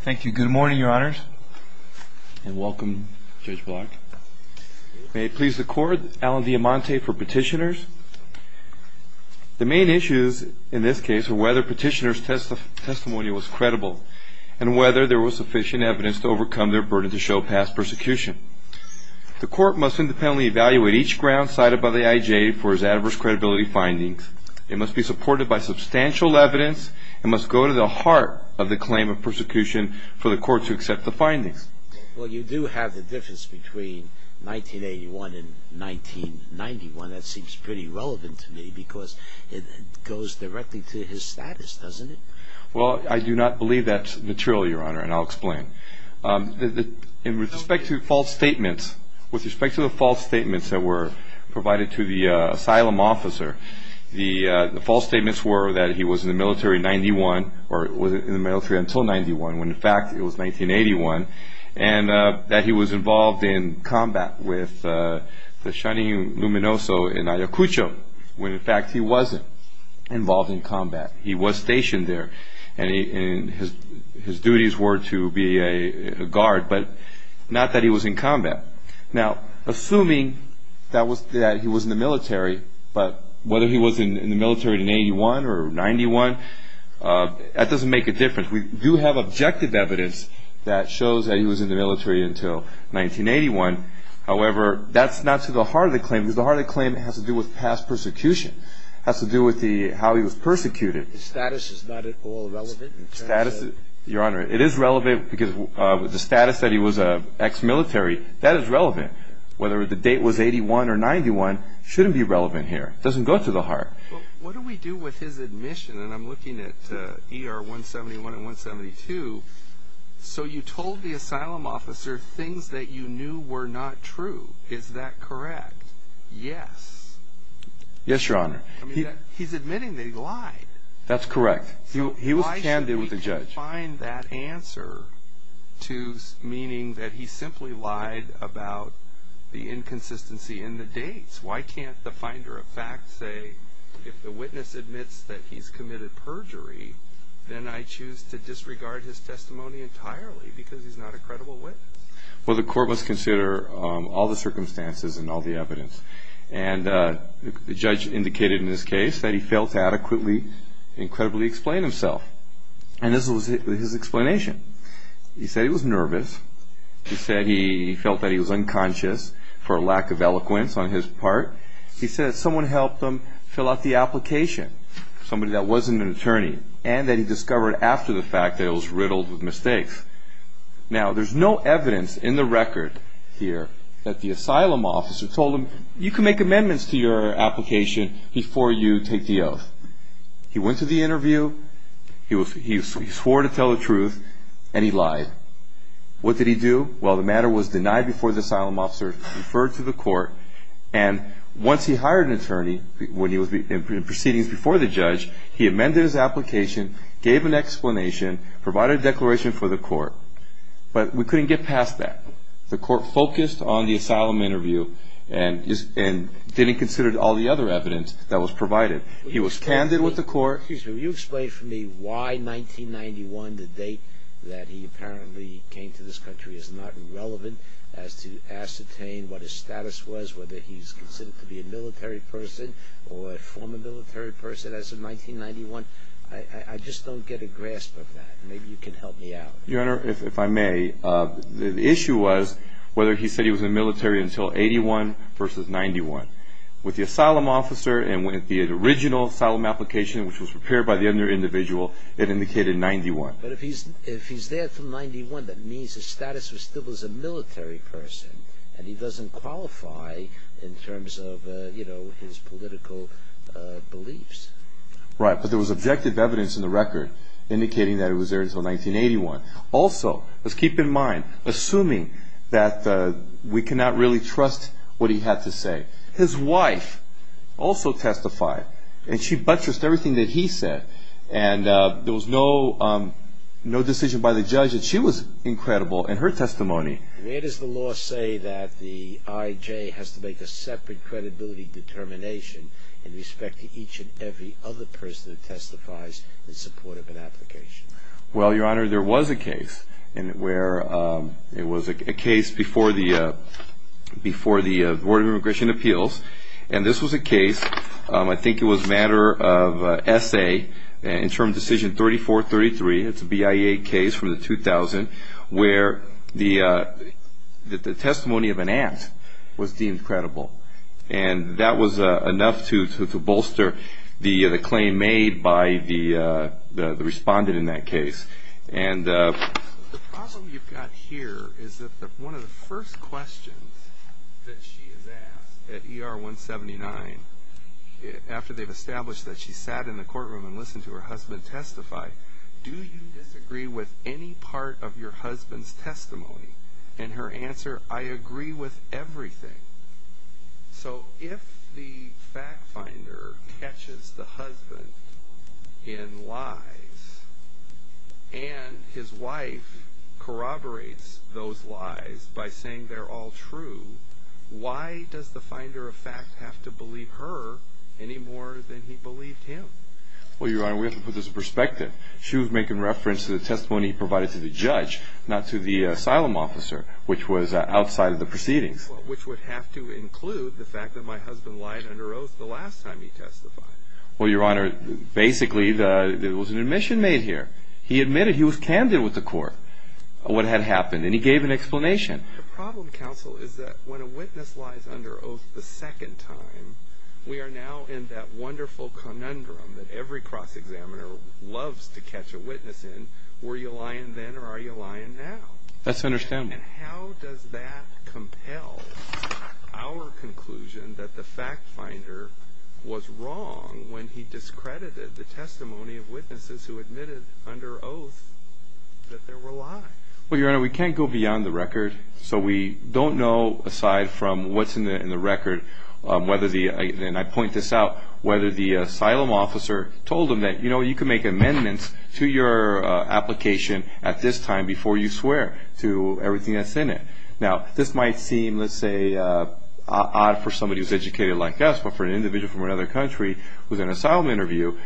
Thank you. Good morning, Your Honors, and welcome, Judge Block. May it please the Court, Alan Diamante for Petitioners. The main issues in this case are whether Petitioner's testimony was credible and whether there was sufficient evidence to overcome their burden to show past persecution. The Court must independently evaluate each ground cited by the IJ for its adverse credibility findings. It must be supported by substantial evidence and must go to the heart of the claim of persecution for the Court to accept the findings. Well, you do have the difference between 1981 and 1991. That seems pretty relevant to me because it goes directly to his status, doesn't it? Well, I do not believe that's material, Your Honor, and I'll explain. With respect to the false statements that were provided to the asylum officer, the false statements were that he was in the military until 1991, when in fact it was 1981, and that he was involved in combat with the Shining Luminoso in Ayacucho, when in fact he wasn't involved in combat. He was stationed there, and his duties were to be a guard, but not that he was in combat. Now, assuming that he was in the military, but whether he was in the military in 1981 or 1991, that doesn't make a difference. We do have objective evidence that shows that he was in the military until 1981. However, that's not to the heart of the claim because the heart of the claim has to do with past persecution. It has to do with how he was persecuted. His status is not at all relevant? Your Honor, it is relevant because the status that he was ex-military, that is relevant. Whether the date was 1981 or 1991 shouldn't be relevant here. It doesn't go to the heart. Well, what do we do with his admission? And I'm looking at ER 171 and 172. So you told the asylum officer things that you knew were not true. Is that correct? Yes. Yes, Your Honor. He's admitting that he lied. That's correct. He was candid with the judge. So why should we confine that answer to meaning that he simply lied about the inconsistency in the dates? Why can't the finder of fact say, if the witness admits that he's committed perjury, then I choose to disregard his testimony entirely because he's not a credible witness? Well, the court must consider all the circumstances and all the evidence. And the judge indicated in this case that he failed to adequately and credibly explain himself. And this was his explanation. He said he was nervous. He said he felt that he was unconscious for a lack of eloquence on his part. He said that someone helped him fill out the application, somebody that wasn't an attorney, and that he discovered after the fact that it was riddled with mistakes. Now, there's no evidence in the record here that the asylum officer told him, you can make amendments to your application before you take the oath. He went to the interview, he swore to tell the truth, and he lied. What did he do? Well, the matter was denied before the asylum officer, referred to the court, and once he hired an attorney in proceedings before the judge, he amended his application, gave an explanation, provided a declaration for the court. But we couldn't get past that. The court focused on the asylum interview and didn't consider all the other evidence that was provided. He was candid with the court. Excuse me. Will you explain for me why 1991, the date that he apparently came to this country, is not relevant as to ascertain what his status was, whether he's considered to be a military person or a former military person as of 1991? I just don't get a grasp of that. Maybe you can help me out. Your Honor, if I may, the issue was whether he said he was in the military until 81 versus 91. With the asylum officer and with the original asylum application, which was prepared by the other individual, it indicated 91. But if he's there from 91, that means his status was still as a military person, and he doesn't qualify in terms of, you know, his political beliefs. Right. But there was objective evidence in the record indicating that he was there until 1981. Also, let's keep in mind, assuming that we cannot really trust what he had to say, his wife also testified, and she buttressed everything that he said. And there was no decision by the judge that she was incredible in her testimony. Where does the law say that the I.J. has to make a separate credibility determination in respect to each and every other person who testifies in support of an application? Well, Your Honor, there was a case where it was a case before the Board of Immigration Appeals, and this was a case, I think it was a matter of S.A., in term decision 3433, it's a BIA case from the 2000, where the testimony of an aunt was deemed credible. And that was enough to bolster the claim made by the respondent in that case. The problem you've got here is that one of the first questions that she is asked at ER 179, after they've established that she sat in the courtroom and listened to her husband testify, do you disagree with any part of your husband's testimony? And her answer, I agree with everything. So if the fact finder catches the husband in lies, and his wife corroborates those lies by saying they're all true, why does the finder of fact have to believe her any more than he believed him? Well, Your Honor, we have to put this in perspective. She was making reference to the testimony provided to the judge, not to the asylum officer, which was outside of the proceedings. Which would have to include the fact that my husband lied under oath the last time he testified. Well, Your Honor, basically there was an admission made here. He admitted he was candid with the court on what had happened, and he gave an explanation. The problem, counsel, is that when a witness lies under oath the second time, we are now in that wonderful conundrum that every cross-examiner loves to catch a witness in, were you lying then or are you lying now? That's understandable. And how does that compel our conclusion that the fact finder was wrong when he discredited the testimony of witnesses who admitted under oath that there were lies? Well, Your Honor, we can't go beyond the record. So we don't know, aside from what's in the record, whether the, and I point this out, whether the asylum officer told him that, you know, you can make amendments to your application at this time before you swear to everything that's in it. Now, this might seem, let's say, odd for somebody who's educated like us, but for an individual from another country who's in an asylum interview,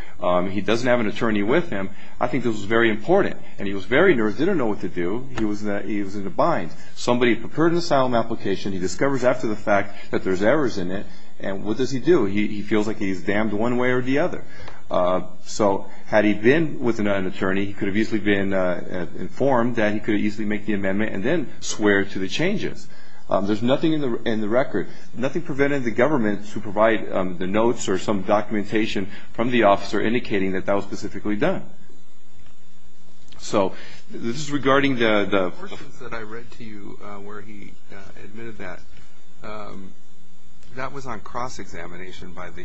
he doesn't have an attorney with him, I think this was very important. And he was very nervous, didn't know what to do. He was in a bind. Somebody prepared an asylum application, he discovers after the fact that there's errors in it, and what does he do? He feels like he's damned one way or the other. So had he been with an attorney, he could have easily been informed that he could easily make the amendment and then swear to the changes. or some documentation from the officer indicating that that was specifically done. So this is regarding the... The portions that I read to you where he admitted that, that was on cross-examination by the DHS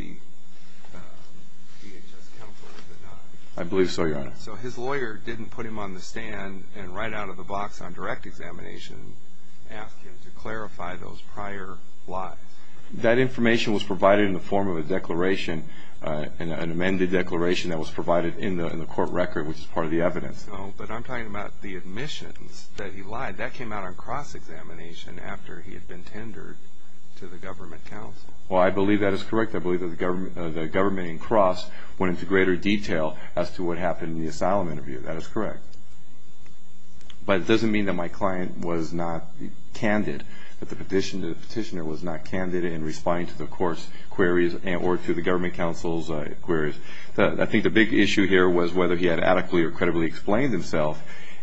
counsel, was it not? I believe so, Your Honor. So his lawyer didn't put him on the stand and right out of the box on direct examination, ask him to clarify those prior lies. That information was provided in the form of a declaration, an amended declaration that was provided in the court record, which is part of the evidence. No, but I'm talking about the admissions that he lied. That came out on cross-examination after he had been tendered to the government counsel. Well, I believe that is correct. I believe that the government in cross went into greater detail as to what happened in the asylum interview. That is correct. But it doesn't mean that my client was not candid, that the petitioner was not candid in responding to the court's queries or to the government counsel's queries. I think the big issue here was whether he had adequately or credibly explained himself.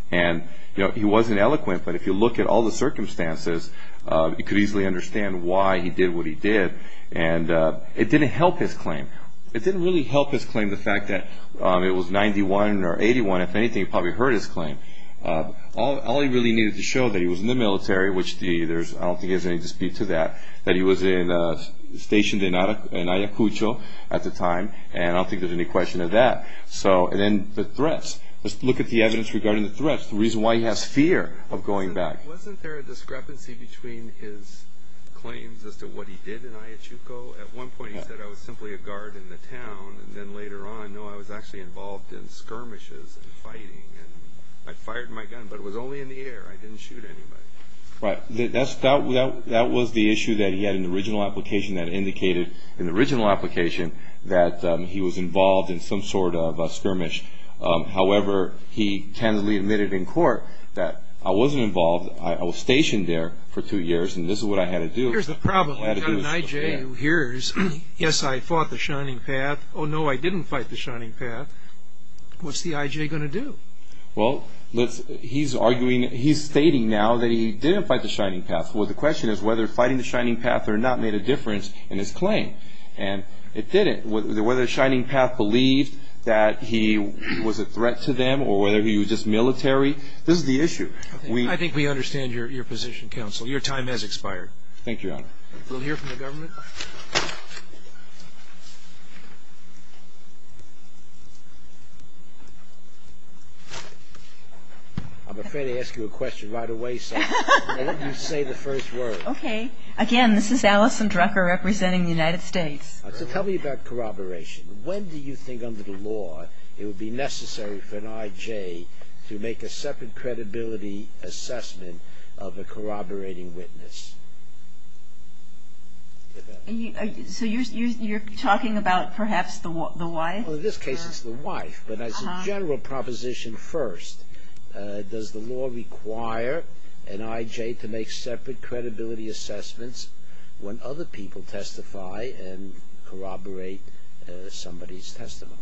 And, you know, he wasn't eloquent, but if you look at all the circumstances, you could easily understand why he did what he did. And it didn't help his claim. It didn't really help his claim the fact that it was 91 or 81. If anything, it probably hurt his claim. All he really needed to show that he was in the military, which I don't think there's any dispute to that, that he was stationed in Ayacucho at the time, and I don't think there's any question of that. So then the threats. Let's look at the evidence regarding the threats, the reason why he has fear of going back. Wasn't there a discrepancy between his claims as to what he did in Ayacucho? At one point he said, I was simply a guard in the town, and then later on, no, I was actually involved in skirmishes and fighting. And I fired my gun, but it was only in the air. I didn't shoot anybody. Right. That was the issue that he had in the original application that indicated in the original application that he was involved in some sort of a skirmish. However, he candidly admitted in court that I wasn't involved. I was stationed there for two years, and this is what I had to do. Here's the problem. You've got an I.J. who hears, yes, I fought the Shining Path. Oh, no, I didn't fight the Shining Path. What's the I.J. going to do? Well, he's stating now that he didn't fight the Shining Path. Well, the question is whether fighting the Shining Path or not made a difference in his claim. And it didn't, whether the Shining Path believed that he was a threat to them or whether he was just military. This is the issue. I think we understand your position, counsel. Your time has expired. Thank you, Your Honor. We'll hear from the government. I'm afraid to ask you a question right away, so let me say the first word. Okay. Again, this is Alison Drucker representing the United States. So tell me about corroboration. When do you think under the law it would be necessary for an I.J. to make a separate credibility assessment of a corroborating witness? So you're talking about perhaps the wife? Well, in this case it's the wife, but as a general proposition first, does the law require an I.J. to make separate credibility assessments when other people testify and corroborate somebody's testimony?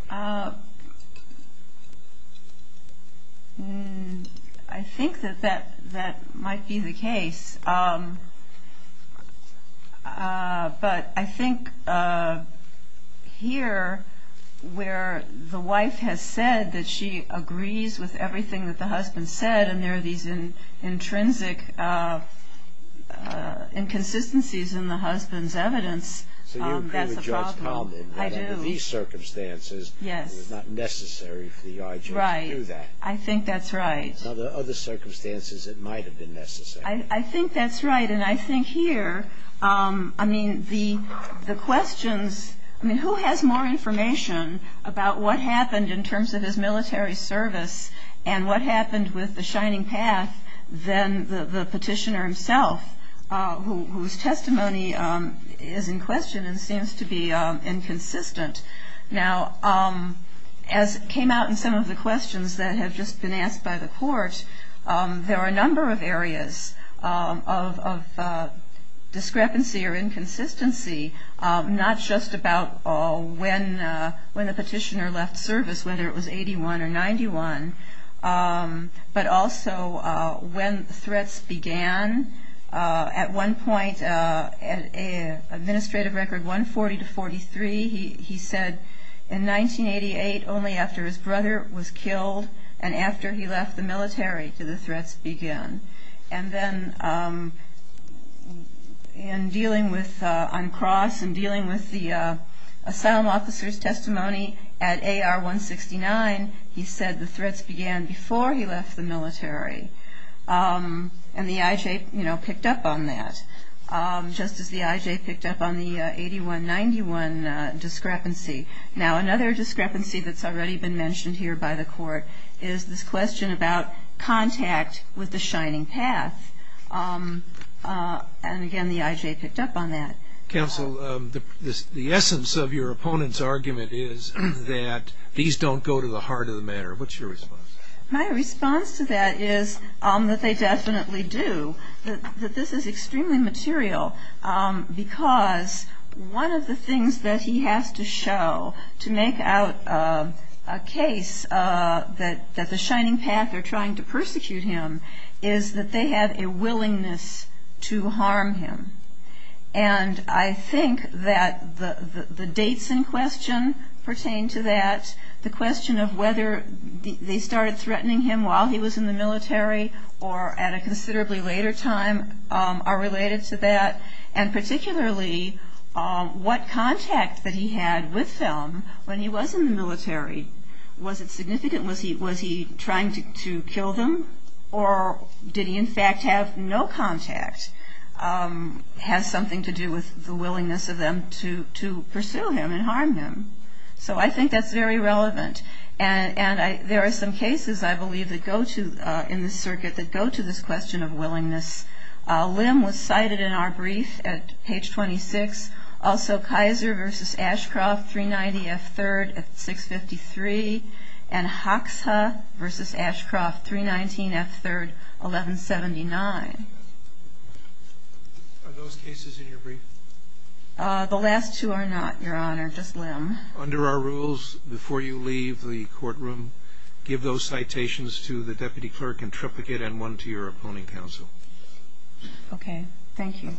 I think that that might be the case. But I think here where the wife has said that she agrees with everything that the husband said and there are these intrinsic inconsistencies in the husband's evidence, that's a problem. So you agree with Judge Kalman that under these circumstances it was not necessary for the I.J. to do that. Right. I think that's right. Now, there are other circumstances it might have been necessary. I think that's right. And I think here, I mean, the questions, I mean, who has more information about what happened in terms of his military service and what happened with the Shining Path than the petitioner himself, whose testimony is in question and seems to be inconsistent. Now, as came out in some of the questions that have just been asked by the court, there are a number of areas of discrepancy or inconsistency, not just about when the petitioner left service, whether it was 81 or 91, but also when threats began. At one point, Administrative Record 140-43, he said in 1988, only after his brother was killed and after he left the military did the threats begin. And then in dealing with, on cross and dealing with the asylum officer's testimony at AR-169, he said the threats began before he left the military. And the IJ, you know, picked up on that, just as the IJ picked up on the 81-91 discrepancy. Now, another discrepancy that's already been mentioned here by the court is this question about contact with the Shining Path. And again, the IJ picked up on that. Counsel, the essence of your opponent's argument is that these don't go to the heart of the matter. What's your response? My response to that is that they definitely do, that this is extremely material, because one of the things that he has to show to make out a case that the Shining Path are trying to persecute him is that they have a willingness to harm him. And I think that the dates in question pertain to that, the question of whether they started threatening him while he was in the military or at a considerably later time are related to that, and particularly what contact that he had with them when he was in the military. Was it significant? Was he trying to kill them, or did he in fact have no contact? Has something to do with the willingness of them to pursue him and harm him? So I think that's very relevant. And there are some cases, I believe, in this circuit that go to this question of willingness. Lim was cited in our brief at page 26. Also Kaiser v. Ashcroft, 390 F. 3rd at 653, and Hoxha v. Ashcroft, 319 F. 3rd, 1179. Are those cases in your brief? The last two are not, Your Honor, just Lim. Under our rules, before you leave the courtroom, give those citations to the deputy clerk and triplicate and one to your opponent counsel. Okay. Thank you.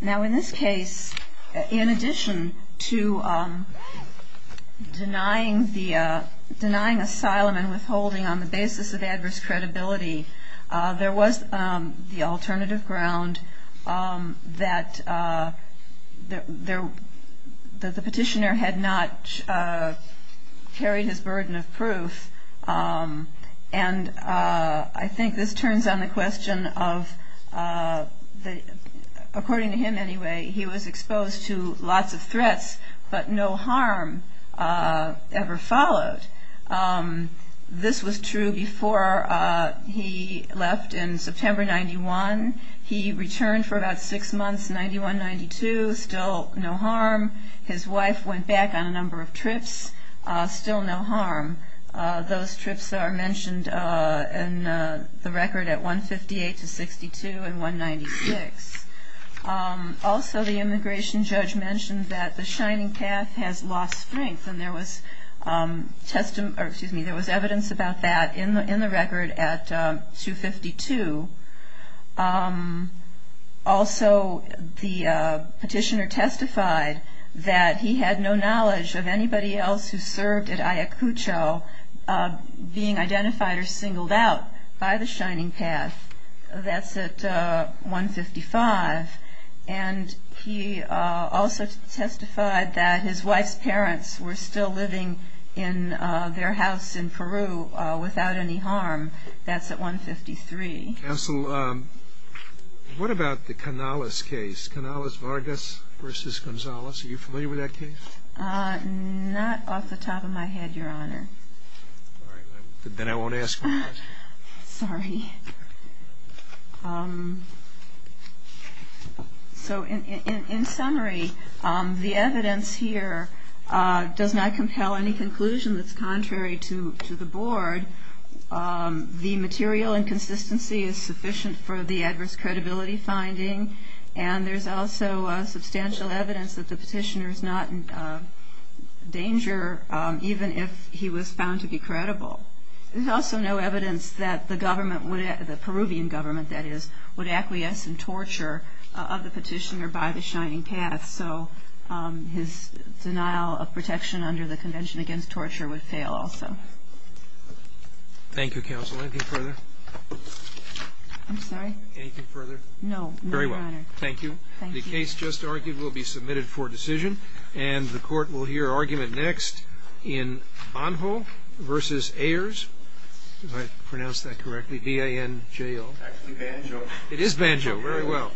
Now in this case, in addition to denying asylum and withholding on the basis of adverse credibility, there was the alternative ground that the petitioner had not carried his burden of proof. And I think this turns on the question of, according to him anyway, he was exposed to lots of threats, but no harm ever followed. This was true before he left in September 91. He returned for about six months, 91, 92, still no harm. His wife went back on a number of trips, still no harm. Those trips are mentioned in the record at 158 to 62 and 196. Also the immigration judge mentioned that the shining calf has lost strength and there was evidence about that in the record at 252. Also the petitioner testified that he had no knowledge of anybody else who served at Ayacucho being identified or singled out by the shining calf. That's at 155. And he also testified that his wife's parents were still living in their house in Peru without any harm. That's at 153. Counsel, what about the Canales case, Canales-Vargas v. Gonzales? Are you familiar with that case? Not off the top of my head, Your Honor. Then I won't ask. Sorry. So in summary, the evidence here does not compel any conclusion that's contrary to the board. The material inconsistency is sufficient for the adverse credibility finding, and there's also substantial evidence that the petitioner is not in danger even if he was found to be credible. There's also no evidence that the government, the Peruvian government, that is, would acquiesce in torture of the petitioner by the shining calf, so his denial of protection under the Convention Against Torture would fail also. Thank you, counsel. Anything further? I'm sorry? Anything further? No, no, Your Honor. Very well. Thank you. The case just argued will be submitted for decision, and the court will hear argument next in Banjo v. Ayers. Did I pronounce that correctly, B-A-N-J-O? Banjo. It is Banjo. Very well.